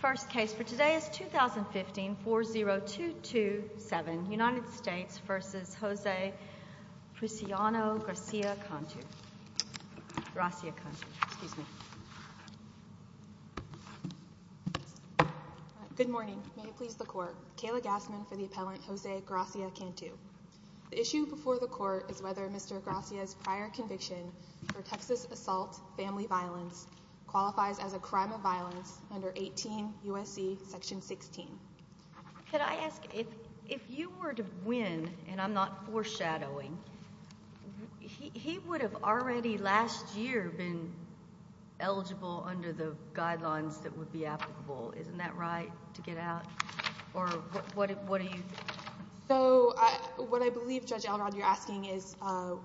First case for today is 2015-40227 United States v. Jose Graciano-Gracia-Cantu Good morning. May it please the court. Kayla Gassman for the appellant Jose Gracia-Cantu. The issue before the court is whether Mr. Gracia's prior conviction for Texas assault family violence qualifies as a crime of violence under 18 U.S.C. section 16. Could I ask if you were to win, and I'm not foreshadowing, he would have already last year been eligible under the guidelines that would be applicable. Isn't that right, to get out? Or what do you think? So what I believe, Judge Elrod, you're asking is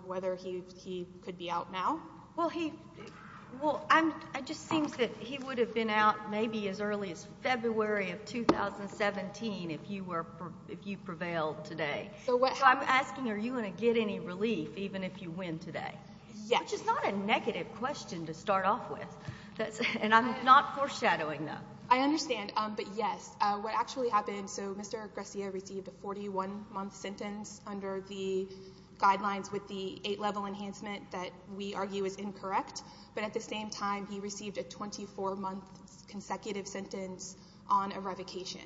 whether he could be out now. Well, it just seems that he would have been out maybe as early as February of 2017 if you prevailed today. So I'm asking, are you going to get any relief even if you win today? Yes. Which is not a negative question to start off with, and I'm not foreshadowing that. I understand, but yes, what actually happened, so Mr. Gracia received a 41-month sentence under the guidelines with the 8-level enhancement that we argue is incorrect. But at the same time, he received a 24-month consecutive sentence on a revocation.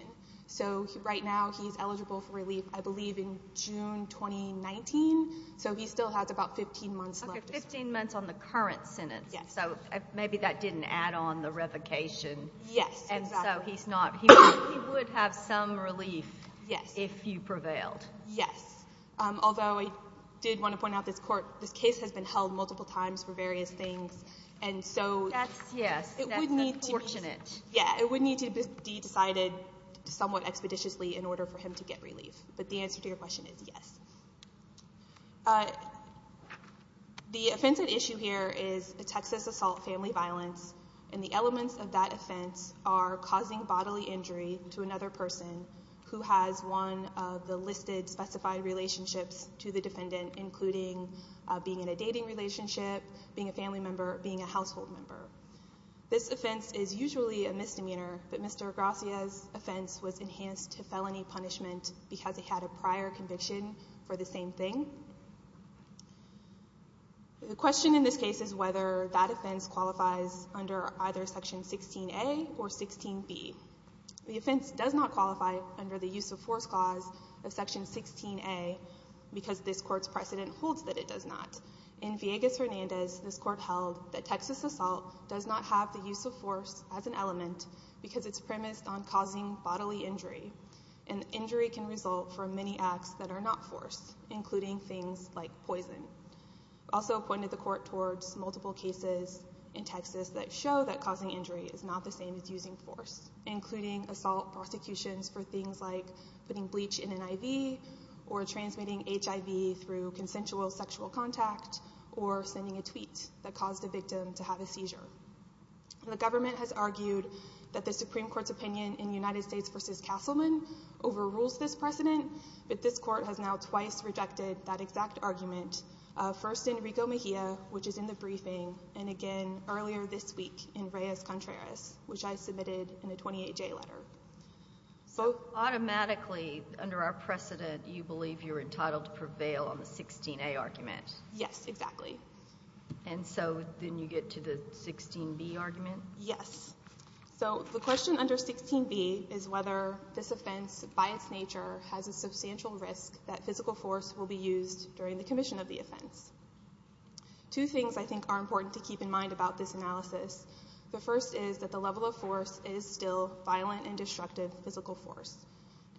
So right now he's eligible for relief, I believe, in June 2019, so he still has about 15 months left. Okay, 15 months on the current sentence. Yes. So maybe that didn't add on the revocation. Yes, exactly. And so he would have some relief if you prevailed. Yes. Although I did want to point out this case has been held multiple times for various things, and so it would need to be decided somewhat expeditiously in order for him to get relief. But the answer to your question is yes. The offensive issue here is a Texas assault family violence, and the elements of that offense are causing bodily injury to another person who has one of the listed, specified relationships to the defendant, including being in a dating relationship, being a family member, being a household member. This offense is usually a misdemeanor, but Mr. Gracia's offense was enhanced to felony punishment because he had a prior conviction for the same thing. The question in this case is whether that offense qualifies under either Section 16A or 16B. The offense does not qualify under the use of force clause of Section 16A because this court's precedent holds that it does not. In Villegas-Hernandez, this court held that Texas assault does not have the use of force as an element because it's premised on causing bodily injury, and injury can result from many acts that are not force, including things like poison. Also pointed the court towards multiple cases in Texas that show that causing injury is not the same as using force, including assault prosecutions for things like putting bleach in an IV or transmitting HIV through consensual sexual contact or sending a tweet that caused a victim to have a seizure. The government has argued that the Supreme Court's opinion in United States v. Castleman overrules this precedent, but this court has now twice rejected that exact argument, first in Rico Mejia, which is in the briefing, and again earlier this week in Reyes-Contreras, which I submitted in a 28-J letter. So automatically, under our precedent, you believe you're entitled to prevail on the 16A argument? Yes, exactly. And so then you get to the 16B argument? Yes. So the question under 16B is whether this offense, by its nature, has a substantial risk that physical force will be used during the commission of the offense. Two things I think are important to keep in mind about this analysis. The first is that the level of force is still violent and destructive physical force.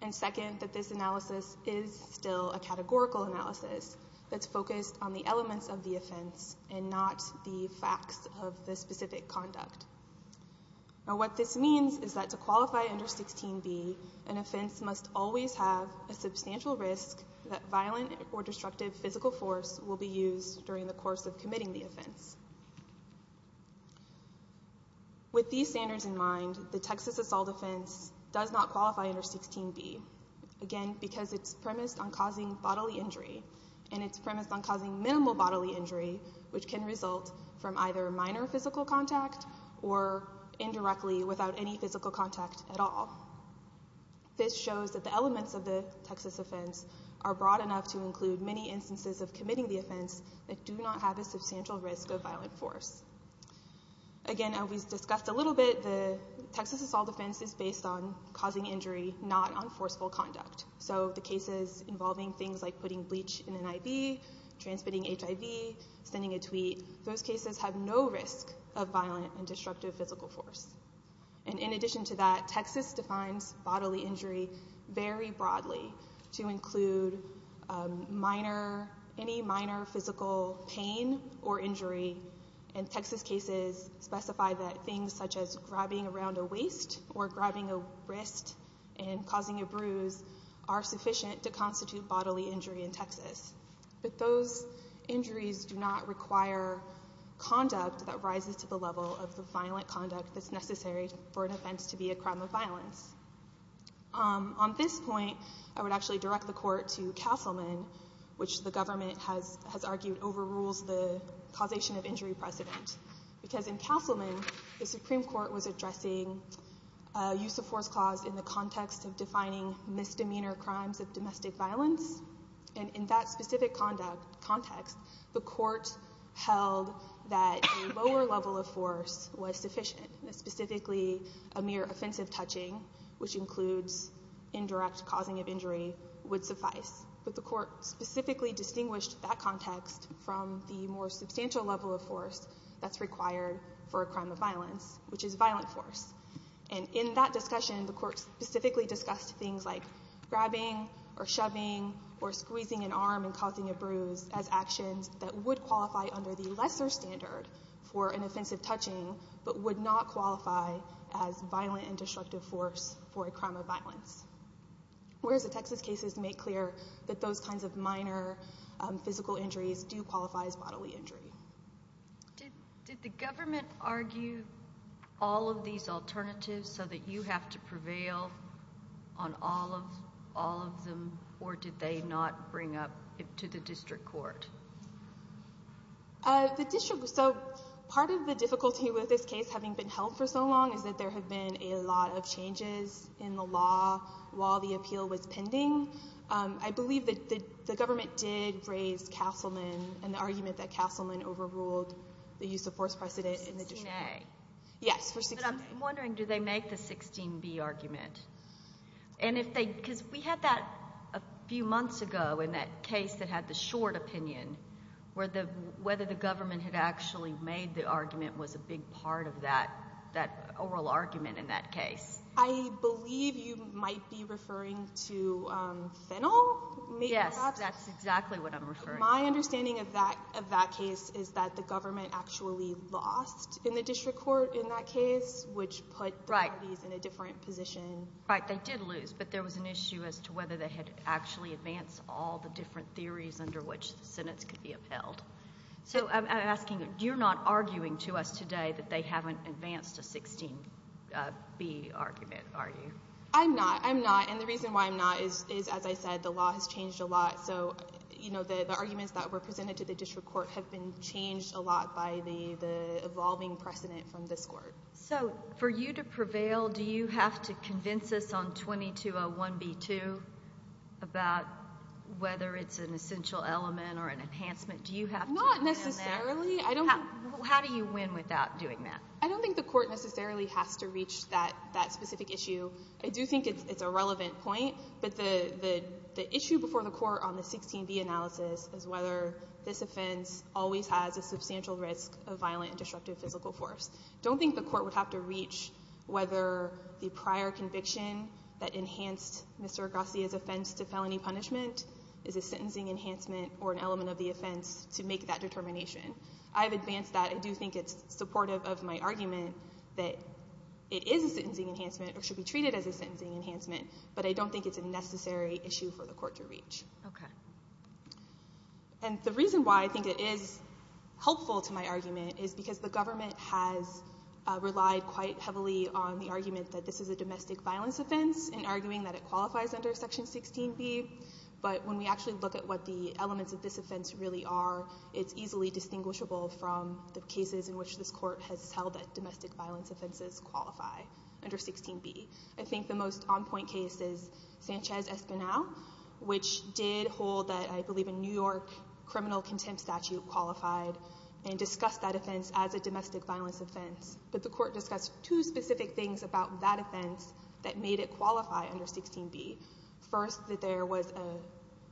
And second, that this analysis is still a categorical analysis that's focused on the elements of the offense and not the facts of the specific conduct. Now what this means is that to qualify under 16B, an offense must always have a substantial risk that violent or destructive physical force will be used during the course of committing the offense. With these standards in mind, the Texas assault offense does not qualify under 16B, again, because it's premised on causing bodily injury, and it's premised on causing minimal bodily injury, which can result from either minor physical contact or indirectly without any physical contact at all. This shows that the elements of the Texas offense are broad enough to include many instances of committing the offense that do not have a substantial risk of violent force. Again, as we discussed a little bit, the Texas assault offense is based on causing injury, not on forceful conduct. So the cases involving things like putting bleach in an IV, transmitting HIV, sending a tweet, those cases have no risk of violent and destructive physical force. And in addition to that, Texas defines bodily injury very broadly to include any minor physical pain or injury. And Texas cases specify that things such as grabbing around a waist or grabbing a wrist and causing a bruise are sufficient to constitute bodily injury in Texas. But those injuries do not require conduct that rises to the level of the violent conduct that's necessary for an offense to be a crime of violence. On this point, I would actually direct the Court to Castleman, which the government has argued overrules the causation of injury precedent. Because in Castleman, the Supreme Court was addressing use of force clause in the context of defining misdemeanor crimes of domestic violence. And in that specific context, the Court held that a lower level of force was sufficient, that specifically a mere offensive touching, which includes indirect causing of injury, would suffice. But the Court specifically distinguished that context from the more substantial level of force that's required for a crime of violence, which is violent force. And in that discussion, the Court specifically discussed things like grabbing or shoving or squeezing an arm and causing a bruise as actions that would qualify under the lesser standard for an offensive touching but would not qualify as violent and destructive force for a crime of violence. Whereas the Texas cases make clear that those kinds of minor physical injuries do qualify as bodily injury. Did the government argue all of these alternatives so that you have to prevail on all of them, or did they not bring up to the district court? So part of the difficulty with this case having been held for so long is that there have been a lot of changes in the law while the appeal was pending. I believe that the government did raise Castleman and the argument that Castleman overruled the use of force precedent in the district court. 16A. Yes, for 16A. But I'm wondering, do they make the 16B argument? Because we had that a few months ago in that case that had the short opinion where whether the government had actually made the argument was a big part of that oral argument in that case. I believe you might be referring to Fennel? Yes, that's exactly what I'm referring to. My understanding of that case is that the government actually lost in the district court in that case, which put the parties in a different position. Right, they did lose, but there was an issue as to whether they had actually advanced all the different theories under which the sentence could be upheld. So I'm asking, you're not arguing to us today that they haven't advanced a 16B argument, are you? I'm not. I'm not, and the reason why I'm not is, as I said, the law has changed a lot, so the arguments that were presented to the district court have been changed a lot by the evolving precedent from this court. So for you to prevail, do you have to convince us on 2201b-2 about whether it's an essential element or an enhancement? Do you have to win that? Not necessarily. How do you win without doing that? I don't think the court necessarily has to reach that specific issue. I do think it's a relevant point, but the issue before the court on the 16B analysis is whether this offense always has a substantial risk of violent and destructive physical force. I don't think the court would have to reach whether the prior conviction that enhanced Mr. Agassi's offense to felony punishment is a sentencing enhancement or an element of the offense to make that determination. I have advanced that. I do think it's supportive of my argument that it is a sentencing enhancement or should be treated as a sentencing enhancement, but I don't think it's a necessary issue for the court to reach. Okay. And the reason why I think it is helpful to my argument is because the government has relied quite heavily on the argument that this is a domestic violence offense in arguing that it qualifies under Section 16B, but when we actually look at what the elements of this offense really are, it's easily distinguishable from the cases in which this court has held that domestic violence offenses qualify under 16B. I think the most on-point case is Sanchez-Espinal, which did hold that, I believe, a New York criminal contempt statute qualified and discussed that offense as a domestic violence offense, but the court discussed two specific things about that offense that made it qualify under 16B. First, that there was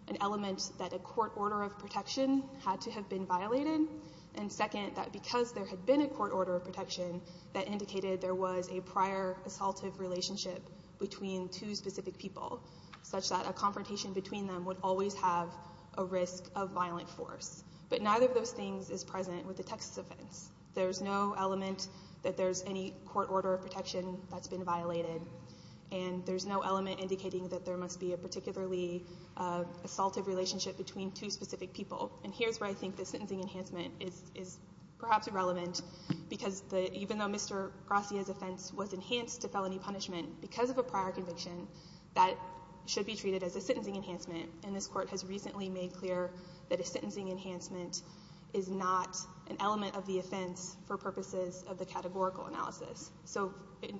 an element that a court order of protection had to have been violated, and second, that because there had been a court order of protection, that indicated there was a prior assaultive relationship between two specific people, such that a confrontation between them would always have a risk of violent force, but neither of those things is present with the Texas offense. There's no element that there's any court order of protection that's been violated, and there's no element indicating that there must be a particularly assaultive relationship between two specific people, and here's where I think the sentencing enhancement is perhaps irrelevant because even though Mr. Gracia's offense was enhanced to felony punishment because of a prior conviction, that should be treated as a sentencing enhancement, and this court has recently made clear that a sentencing enhancement is not an element of the offense for purposes of the categorical analysis. So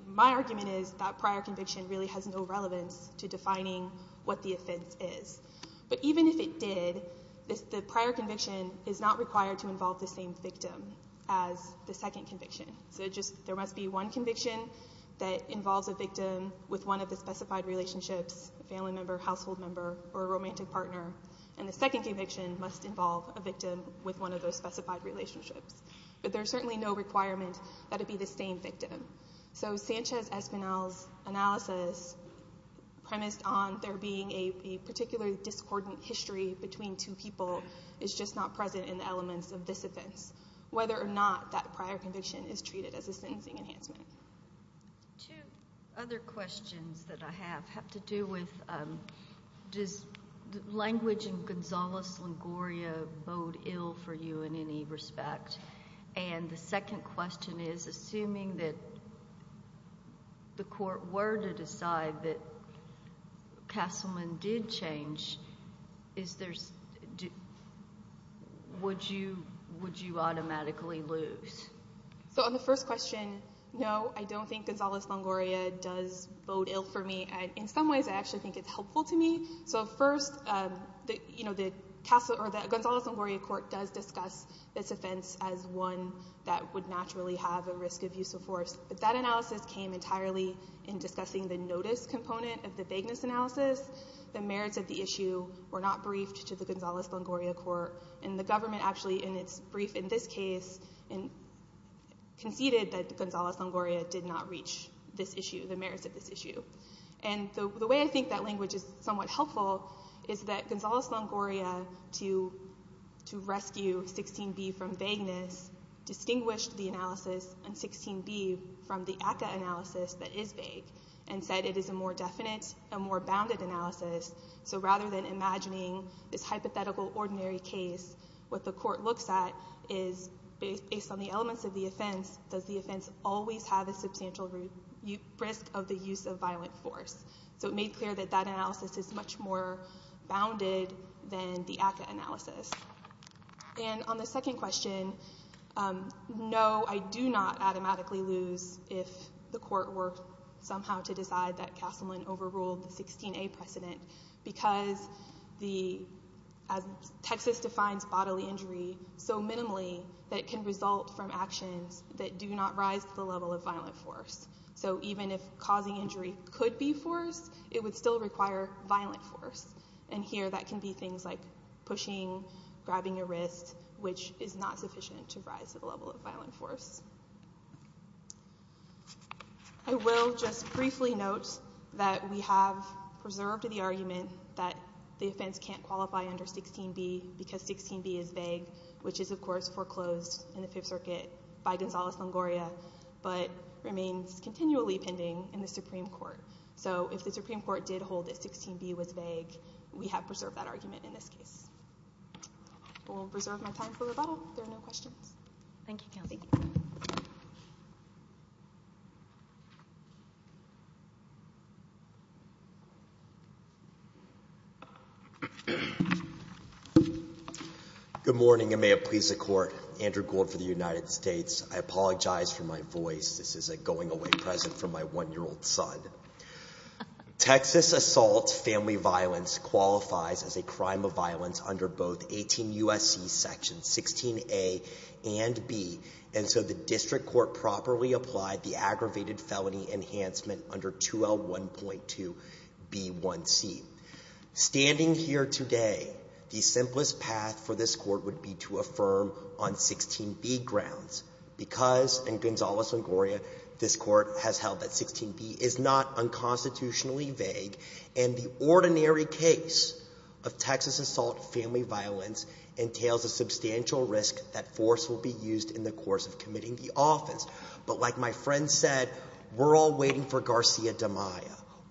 my argument is that prior conviction really has no relevance to defining what the offense is, but even if it did, the prior conviction is not required to involve the same victim as the second conviction. So there must be one conviction that involves a victim with one of the specified relationships, a family member, household member, or a romantic partner, and the second conviction must involve a victim with one of those specified relationships, but there's certainly no requirement that it be the same victim. So Sanchez-Espinal's analysis premised on there being a particular discordant history between two people is just not present in the elements of this offense, whether or not that prior conviction is treated as a sentencing enhancement. Two other questions that I have have to do with does language in Gonzales-Lingoria bode ill for you in any respect, and the second question is, assuming that the court were to decide that Castleman did change, would you automatically lose? So on the first question, no, I don't think Gonzales-Lingoria does bode ill for me. In some ways, I actually think it's helpful to me. So first, the Gonzales-Lingoria court does discuss this offense as one that would naturally have a risk of use of force, but that analysis came entirely in discussing the notice component of the vagueness analysis. The merits of the issue were not briefed to the Gonzales-Lingoria court, and the government actually, in its brief in this case, conceded that Gonzales-Lingoria did not reach the merits of this issue. And the way I think that language is somewhat helpful is that Gonzales-Lingoria, to rescue 16b from vagueness, distinguished the analysis in 16b from the ACCA analysis that is vague and said it is a more definite and more bounded analysis. So rather than imagining this hypothetical, ordinary case, what the court looks at is, based on the elements of the offense, does the offense always have a substantial risk of the use of violent force? So it made clear that that analysis is much more bounded than the ACCA analysis. And on the second question, no, I do not automatically lose if the court were somehow to decide that Castleman overruled the 16a precedent, because, as Texas defines bodily injury, so minimally that it can result from actions that do not rise to the level of violent force. So even if causing injury could be forced, it would still require violent force. And here that can be things like pushing, grabbing a wrist, which is not sufficient to rise to the level of violent force. I will just briefly note that we have preserved the argument that the offense can't qualify under 16b because 16b is vague, which is, of course, foreclosed in the Fifth Circuit by Gonzales-Lingoria, but remains continually pending in the Supreme Court. So if the Supreme Court did hold that 16b was vague, we have preserved that argument in this case. I will preserve my time for rebuttal if there are no questions. Thank you, Counsel. Thank you. Good morning, and may it please the Court. Andrew Gould for the United States. I apologize for my voice. This is a going-away present from my 1-year-old son. Texas assault family violence qualifies as a crime of violence under both 18 U.S.C. Sections 16a and b, and so the District Court properly applied the aggravated felony enhancement under 2L1.2b1c. Standing here today, the simplest path for this Court would be to affirm on 16b grounds because, in Gonzales-Lingoria, this Court has held that 16b is not unconstitutionally vague, and the ordinary case of Texas assault family violence entails a substantial risk that force will be used in the course of committing the offense. But like my friend said, we're all waiting for Garcia de Maya.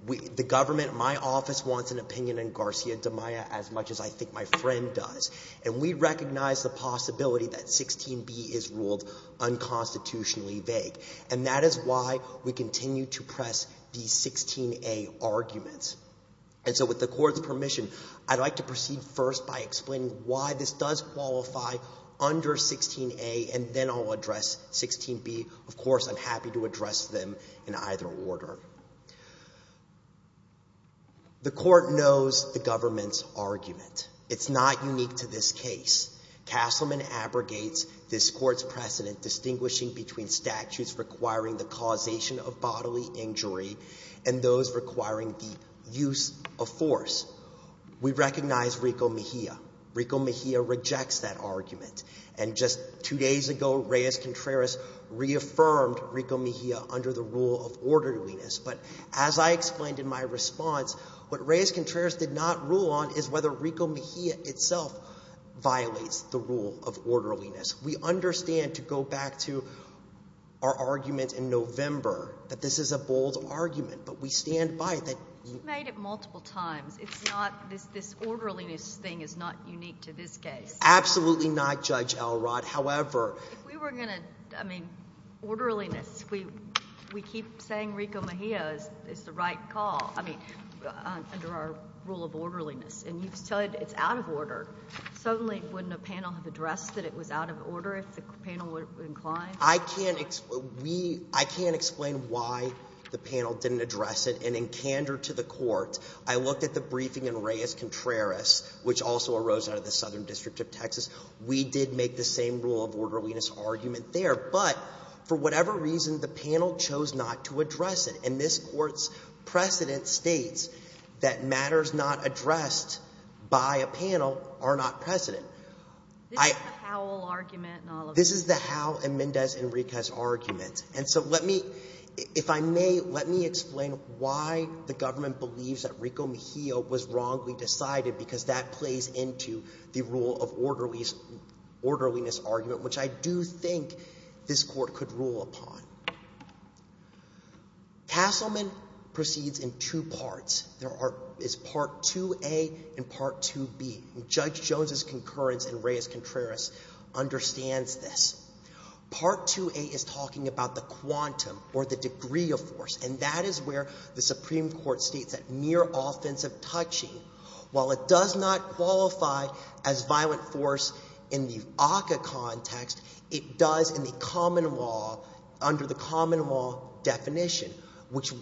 The government, my office, wants an opinion in Garcia de Maya as much as I think my friend does, and we recognize the possibility that 16b is ruled unconstitutionally vague, and that is why we continue to press these 16a arguments. And so with the Court's permission, I'd like to proceed first by explaining why this does qualify under 16a, and then I'll address 16b. Of course, I'm happy to address them in either order. The Court knows the government's argument. It's not unique to this case. Castleman abrogates this Court's precedent distinguishing between statutes requiring the causation of bodily injury and those requiring the use of force. We recognize Rico Mejia. Rico Mejia rejects that argument. And just two days ago, Reyes-Contreras reaffirmed Rico Mejia under the rule of orderliness. But as I explained in my response, what Reyes-Contreras did not rule on is whether Rico Mejia itself violates the rule of orderliness. We understand, to go back to our argument in November, that this is a bold argument, but we stand by it. You've made it multiple times. It's not this orderliness thing is not unique to this case. Absolutely not, Judge Elrod. If we were going to, I mean, orderliness, we keep saying Rico Mejia is the right call, I mean, under our rule of orderliness. And you said it's out of order. Suddenly, wouldn't a panel have addressed that it was out of order if the panel would incline? I can't explain why the panel didn't address it. And in candor to the Court, I looked at the briefing in Reyes-Contreras, which also arose out of the Southern District of Texas. We did make the same rule of orderliness argument there. But for whatever reason, the panel chose not to address it. And this Court's precedent states that matters not addressed by a panel are not precedent. This is the Howell argument in all of this. This is the Howell and Mendez Enriquez argument. And so let me – if I may, let me explain why the government believes that Rico Mejia was wrongly decided, because that plays into the rule of orderliness argument, which I do think this Court could rule upon. Castleman proceeds in two parts. There is Part 2A and Part 2B. And Judge Jones's concurrence in Reyes-Contreras understands this. Part 2A is talking about the quantum or the degree of force. And that is where the Supreme Court states that mere offensive touching, while it does not qualify as violent force in the ACCA context, it does in the common law under the common law definition, which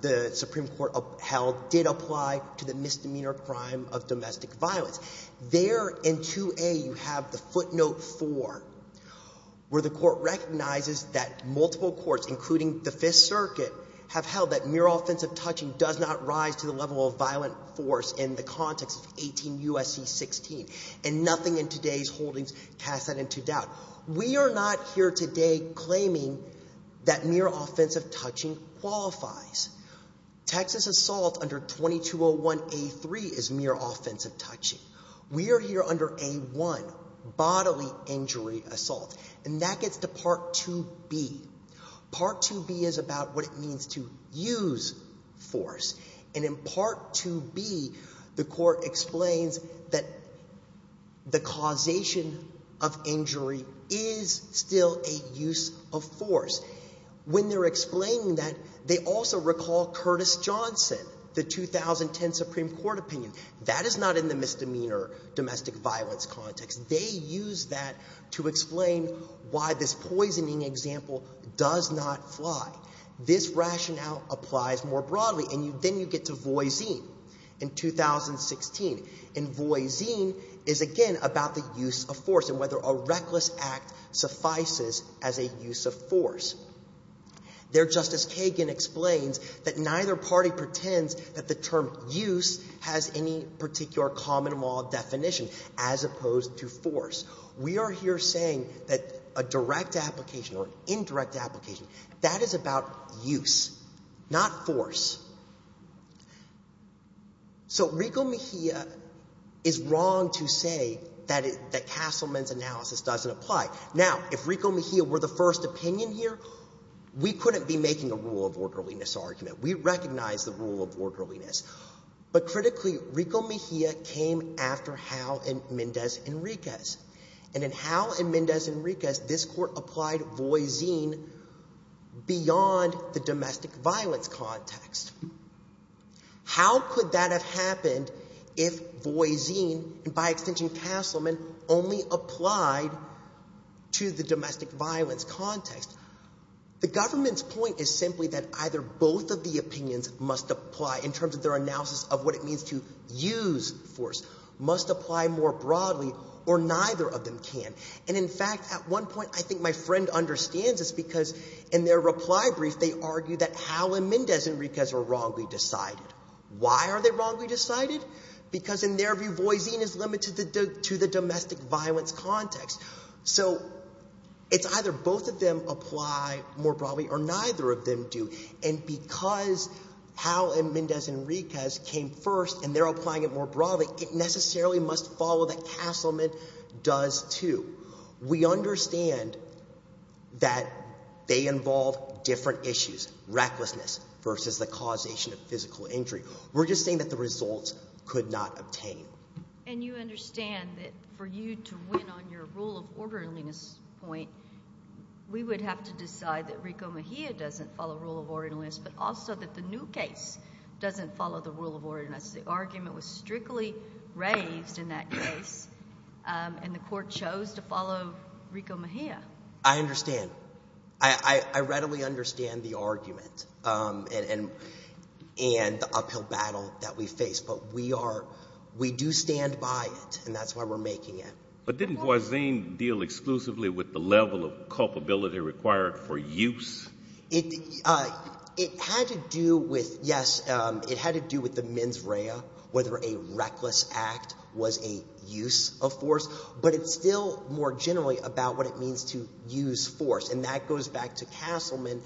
the Supreme Court held did apply to the misdemeanor crime of domestic violence. There in 2A you have the footnote 4, where the Court recognizes that multiple courts, including the Fifth Circuit, have held that mere offensive touching does not rise to the level of violent force in the context of 18 U.S.C. 16. And nothing in today's holdings casts that into doubt. We are not here today claiming that mere offensive touching qualifies. Texas assault under 2201A3 is mere offensive touching. We are here under A1, bodily injury assault. And that gets to Part 2B. Part 2B is about what it means to use force. And in Part 2B the Court explains that the causation of injury is still a use of force. When they're explaining that, they also recall Curtis Johnson, the 2010 Supreme Court opinion. That is not in the misdemeanor domestic violence context. They use that to explain why this poisoning example does not fly. This rationale applies more broadly. And then you get to Voisin in 2016. And Voisin is, again, about the use of force and whether a reckless act suffices as a use of force. There Justice Kagan explains that neither party pretends that the term use has any particular common law definition as opposed to force. We are here saying that a direct application or indirect application, that is about use, not force. So Rico Mejia is wrong to say that Castleman's analysis doesn't apply. Now, if Rico Mejia were the first opinion here, we couldn't be making a rule of orderliness argument. We recognize the rule of orderliness. But critically, Rico Mejia came after Howe and Mendez Enriquez. And in Howe and Mendez Enriquez, this court applied Voisin beyond the domestic violence context. How could that have happened if Voisin, and by extension Castleman, only applied to the domestic violence context? The government's point is simply that either both of the opinions must apply in terms of their analysis of what it means to use force. Must apply more broadly, or neither of them can. And in fact, at one point, I think my friend understands this because in their reply brief, they argue that Howe and Mendez Enriquez were wrongly decided. Why are they wrongly decided? Because in their view, Voisin is limited to the domestic violence context. So it's either both of them apply more broadly or neither of them do. And because Howe and Mendez Enriquez came first and they're applying it more broadly, it necessarily must follow that Castleman does too. We understand that they involve different issues, recklessness versus the causation of physical injury. We're just saying that the results could not obtain. And you understand that for you to win on your rule of orderliness point, we would have to decide that Rico Mejia doesn't follow rule of orderliness, but also that the new case doesn't follow the rule of orderliness. The argument was strictly raised in that case, and the court chose to follow Rico Mejia. I understand. I readily understand the argument and the uphill battle that we face, but we do stand by it, and that's why we're making it. But didn't Voisin deal exclusively with the level of culpability required for use? It had to do with, yes, it had to do with the mens rea, whether a reckless act was a use of force. But it's still more generally about what it means to use force. And that goes back to Castleman,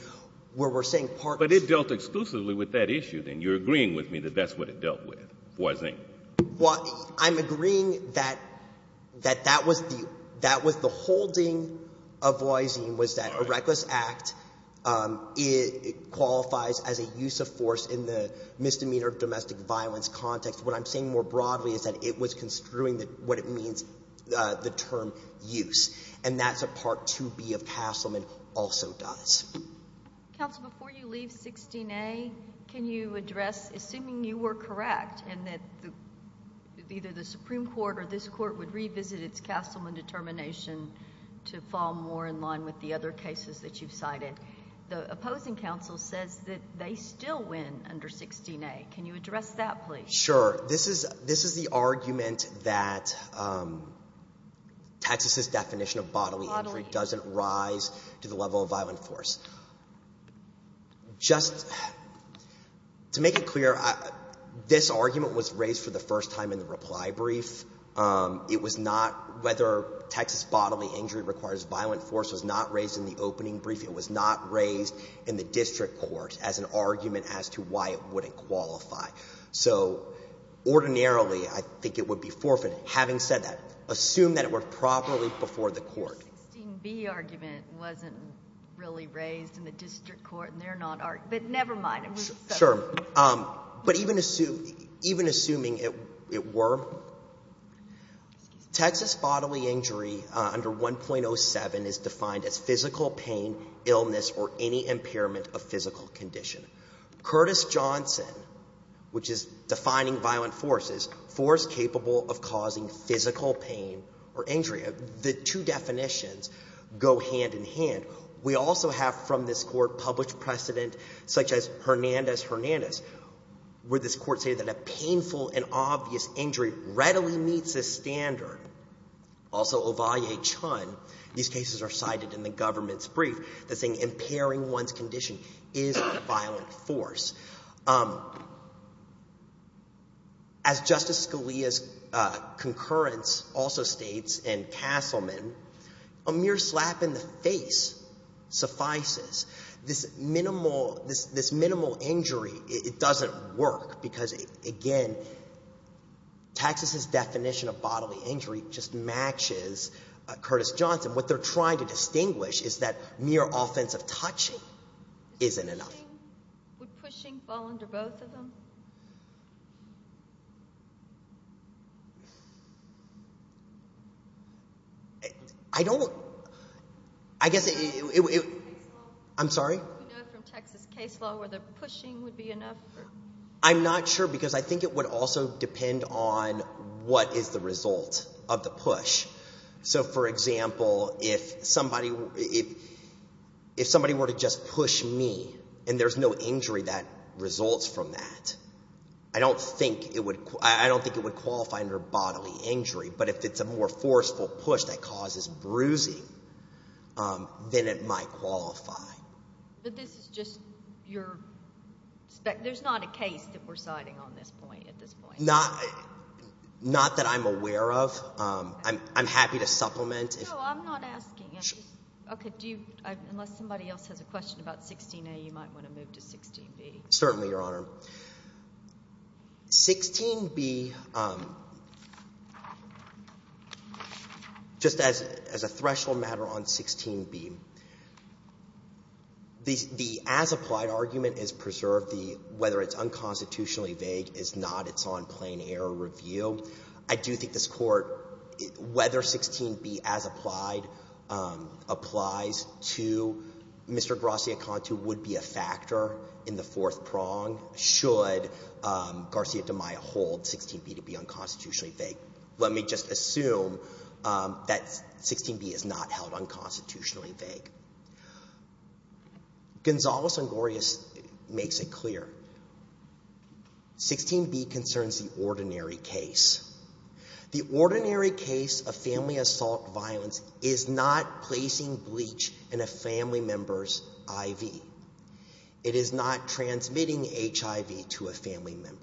where we're saying part of the — But it dealt exclusively with that issue, then. You're agreeing with me that that's what it dealt with, Voisin? I'm agreeing that that was the holding of Voisin was that a reckless act qualifies as a use of force in the misdemeanor of domestic violence context. What I'm saying more broadly is that it was construing what it means, the term use. And that's a Part 2B of Castleman also does. Counsel, before you leave 16A, can you address, assuming you were correct and that either the Supreme Court or this court would revisit its Castleman determination to fall more in line with the other cases that you've cited, the opposing counsel says that they still win under 16A. Sure. This is the argument that Texas's definition of bodily injury doesn't rise to the level of violent force. Just to make it clear, this argument was raised for the first time in the reply brief. It was not — whether Texas bodily injury requires violent force was not raised in the opening brief. It was not raised in the district court as an argument as to why it wouldn't qualify. So ordinarily, I think it would be forfeited. Having said that, assume that it were properly before the court. The 16B argument wasn't really raised in the district court, and they're not — but never mind. Sure. But even assuming it were, Texas bodily injury under 1.07 is defined as physical pain, illness, or any impairment of physical condition. Curtis-Johnson, which is defining violent force, is force capable of causing physical pain or injury. The two definitions go hand in hand. We also have from this Court published precedent such as Hernandez-Hernandez, where this Court stated that a painful and obvious injury readily meets this standard. Also, Ovalle-Chun — these cases are cited in the government's brief — they're saying impairing one's condition is a violent force. As Justice Scalia's concurrence also states in Castleman, a mere slap in the face suffices. This minimal injury, it doesn't work because, again, Texas's definition of bodily injury just matches Curtis-Johnson. What they're trying to distinguish is that mere offensive touching isn't enough. Would pushing fall under both of them? I don't — I guess it — I'm sorry? Do you know from Texas case law whether pushing would be enough? I'm not sure because I think it would also depend on what is the result of the push. So, for example, if somebody were to just push me and there's no injury that results from that, I don't think it would qualify under bodily injury. But if it's a more forceful push that causes bruising, then it might qualify. But this is just your — there's not a case that we're citing on this point at this point. Not that I'm aware of. I'm happy to supplement. No, I'm not asking. Okay. Do you — unless somebody else has a question about 16A, you might want to move to 16B. Certainly, Your Honor. 16B, just as a threshold matter on 16B, the as-applied argument is preserved. The — whether it's unconstitutionally vague is not. It's on plain-error review. I do think this Court, whether 16B as-applied applies to Mr. Gracia-Conto would be a factor in the fourth prong should Garcia-Demeyer hold 16B to be unconstitutionally vague. Let me just assume that 16B is not held unconstitutionally vague. Gonzales and Gloria makes it clear. 16B concerns the ordinary case. The ordinary case of family assault violence is not placing bleach in a family member's IV. It is not transmitting HIV to a family member.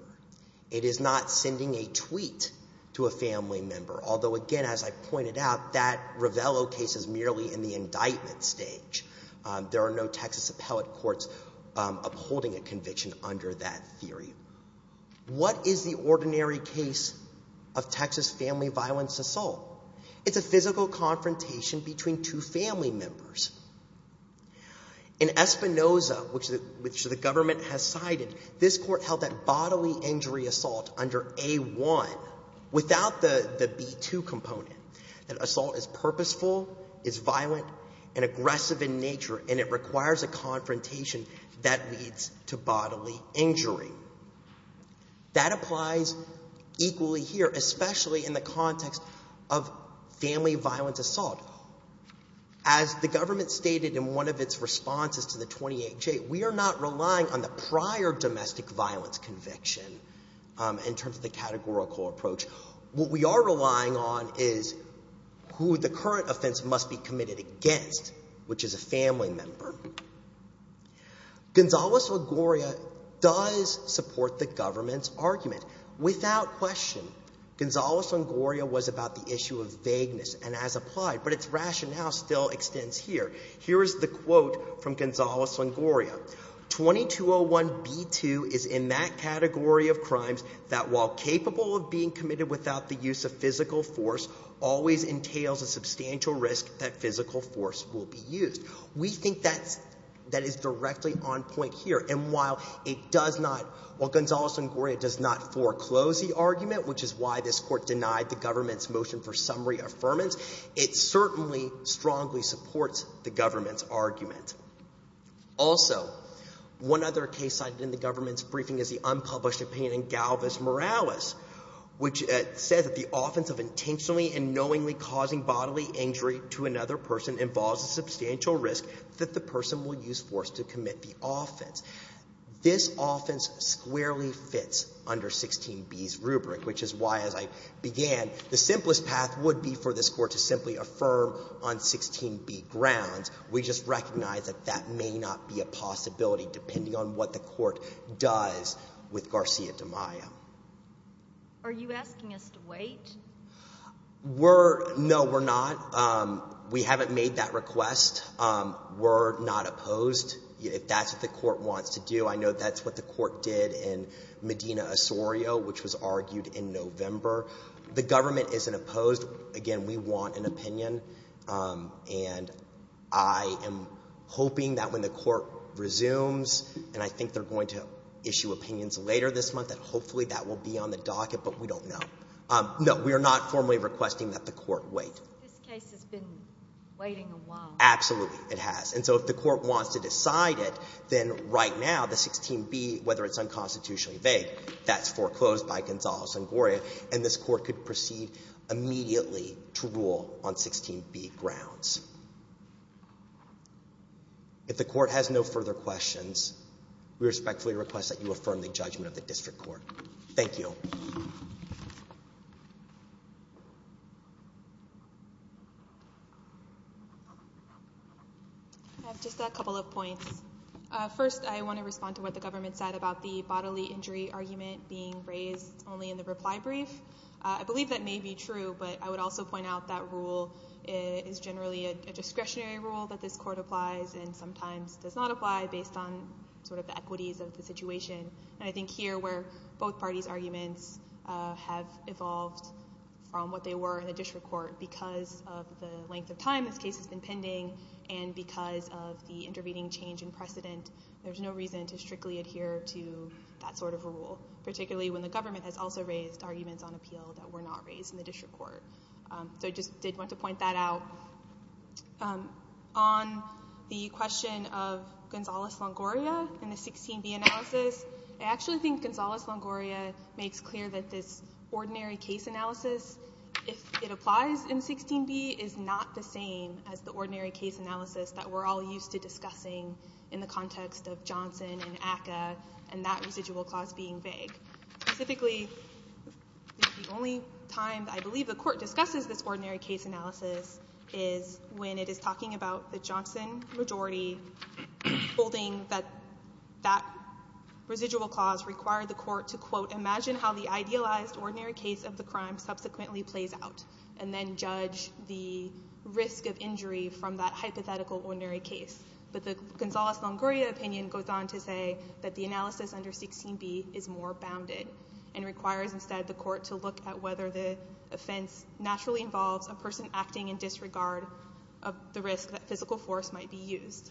It is not sending a tweet to a family member. Although, again, as I pointed out, that Ravello case is merely in the indictment stage. There are no Texas appellate courts upholding a conviction under that theory. What is the ordinary case of Texas family violence assault? It's a physical confrontation between two family members. In Espinoza, which the government has cited, this Court held that bodily injury assault under A-1 without the B-2 component. That assault is purposeful, is violent, and aggressive in nature, and it requires a confrontation that leads to bodily injury. That applies equally here, especially in the context of family violence assault. As the government stated in one of its responses to the 28-J, we are not relying on the prior domestic violence conviction in terms of the categorical approach. What we are relying on is who the current offense must be committed against, which is a family member. Gonzales and Gloria does support the government's argument. Without question, Gonzales and Gloria was about the issue of vagueness, and as applied, but its rationale still extends here. Here is the quote from Gonzales and Gloria. 2201B-2 is in that category of crimes that, while capable of being committed without the use of physical force, always entails a substantial risk that physical force will be used. We think that is directly on point here. And while it does not, while Gonzales and Gloria does not foreclose the argument, which is why this Court denied the government's motion for summary affirmance, it certainly strongly supports the government's argument. Also, one other case cited in the government's briefing is the unpublished opinion in Galvis Morales, which says that the offense of intentionally and knowingly causing bodily injury to another person involves a substantial risk that the person will use force to commit the offense. This offense squarely fits under 16B's rubric, which is why, as I began, the simplest path would be for this Court to simply affirm on 16B grounds. We just recognize that that may not be a possibility, depending on what the Court does with Garcia-DeMaio. Are you asking us to wait? No, we're not. We haven't made that request. We're not opposed. If that's what the Court wants to do, I know that's what the Court did in Medina-Osorio, which was argued in November. The government isn't opposed. Again, we want an opinion. And I am hoping that when the Court resumes, and I think they're going to issue opinions later this month, that hopefully that will be on the docket, but we don't know. No, we are not formally requesting that the Court wait. But this case has been waiting a while. Absolutely, it has. And so if the Court wants to decide it, then right now, the 16B, whether it's unconstitutionally vague, that's foreclosed by Gonzales and Goria, and this Court could proceed immediately to rule on 16B grounds. If the Court has no further questions, we respectfully request that you affirm the judgment of the District Court. Thank you. I have just a couple of points. First, I want to respond to what the government said about the bodily injury argument being raised only in the reply brief. I believe that may be true, but I would also point out that rule is generally a discretionary rule that this Court applies and sometimes does not apply based on sort of the equities of the situation. And I think here where both parties' arguments have evolved from what they were in the District Court because of the length of time this case has been pending and because of the intervening change in precedent, there's no reason to strictly adhere to that sort of a rule, particularly when the government has also raised arguments on appeal that were not raised in the District Court. So I just did want to point that out. On the question of Gonzales-Longoria and the 16B analysis, I actually think Gonzales-Longoria makes clear that this ordinary case analysis, if it applies in 16B, is not the same as the ordinary case analysis that we're all used to discussing in the context of Johnson and ACCA and that residual clause being vague. Specifically, the only time I believe the Court discusses this ordinary case analysis is when it is talking about the Johnson majority holding that that residual clause required the Court to, quote, imagine how the idealized ordinary case of the crime subsequently plays out and then judge the risk of injury from that hypothetical ordinary case. But the Gonzales-Longoria opinion goes on to say that the analysis under 16B is more bounded and requires instead the Court to look at whether the offense naturally involves a person acting in disregard of the risk that physical force might be used.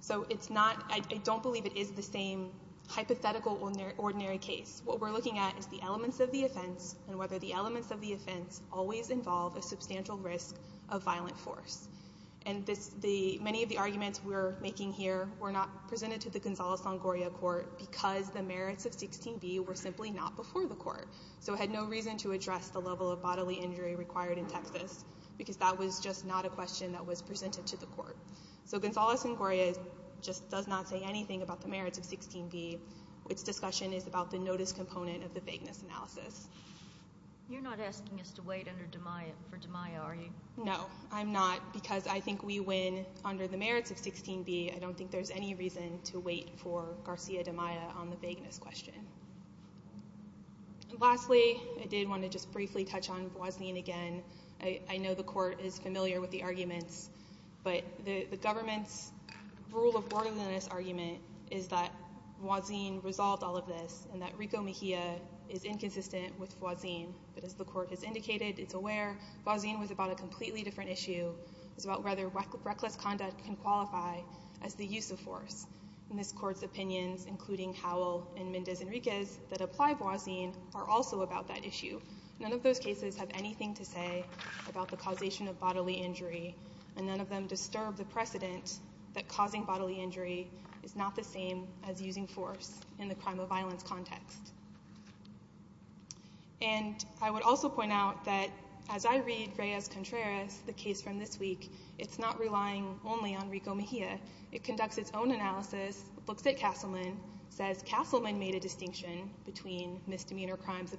So it's not, I don't believe it is the same hypothetical ordinary case. What we're looking at is the elements of the offense and whether the elements of the offense always involve a substantial risk of violent force. And many of the arguments we're making here were not presented to the Gonzales-Longoria Court because the merits of 16B were simply not before the Court. So it had no reason to address the level of bodily injury required in Texas So Gonzales-Longoria just does not say anything about the merits of 16B. Its discussion is about the notice component of the vagueness analysis. You're not asking us to wait for Damiah, are you? No, I'm not, because I think we win under the merits of 16B. I don't think there's any reason to wait for Garcia-Damiah on the vagueness question. Lastly, I did want to just briefly touch on Boisnin again. I know the Court is familiar with the arguments, but the government's rule of order in this argument is that Boisnin resolved all of this and that Rico Mejia is inconsistent with Boisnin. But as the Court has indicated, it's aware Boisnin was about a completely different issue. It was about whether reckless conduct can qualify as the use of force. And this Court's opinions, including Howell and Mendez Enriquez that apply Boisnin, are also about that issue. None of those cases have anything to say about the causation of bodily injury, and none of them disturb the precedent that causing bodily injury is not the same as using force in the crime of violence context. And I would also point out that as I read Reyes-Contreras, the case from this week, it's not relying only on Rico Mejia. It conducts its own analysis, looks at Castleman, says Castleman made a distinction between misdemeanor crimes of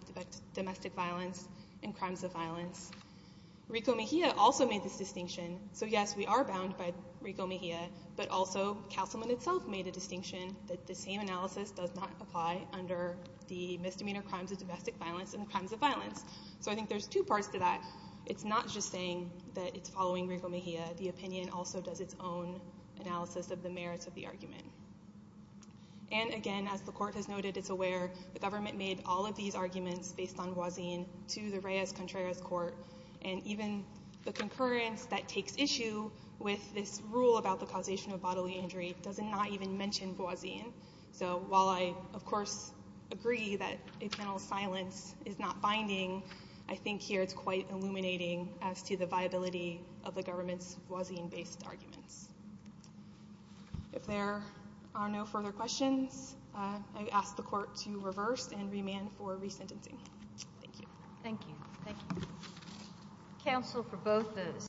domestic violence and crimes of violence. Rico Mejia also made this distinction. So yes, we are bound by Rico Mejia, but also Castleman itself made a distinction that the same analysis does not apply under the misdemeanor crimes of domestic violence and crimes of violence. So I think there's two parts to that. It's not just saying that it's following Rico Mejia. The opinion also does its own analysis of the merits of the argument. And again, as the court has noted, it's aware the government made all of these arguments based on Voisin to the Reyes-Contreras court, and even the concurrence that takes issue with this rule about the causation of bodily injury does not even mention Voisin. So while I, of course, agree that internal silence is not binding, I think here it's quite illuminating as to the viability of the government's Voisin-based arguments. If there are no further questions, I ask the court to reverse and remand for resentencing. Thank you. Thank you. Thank you. Counsel for both those.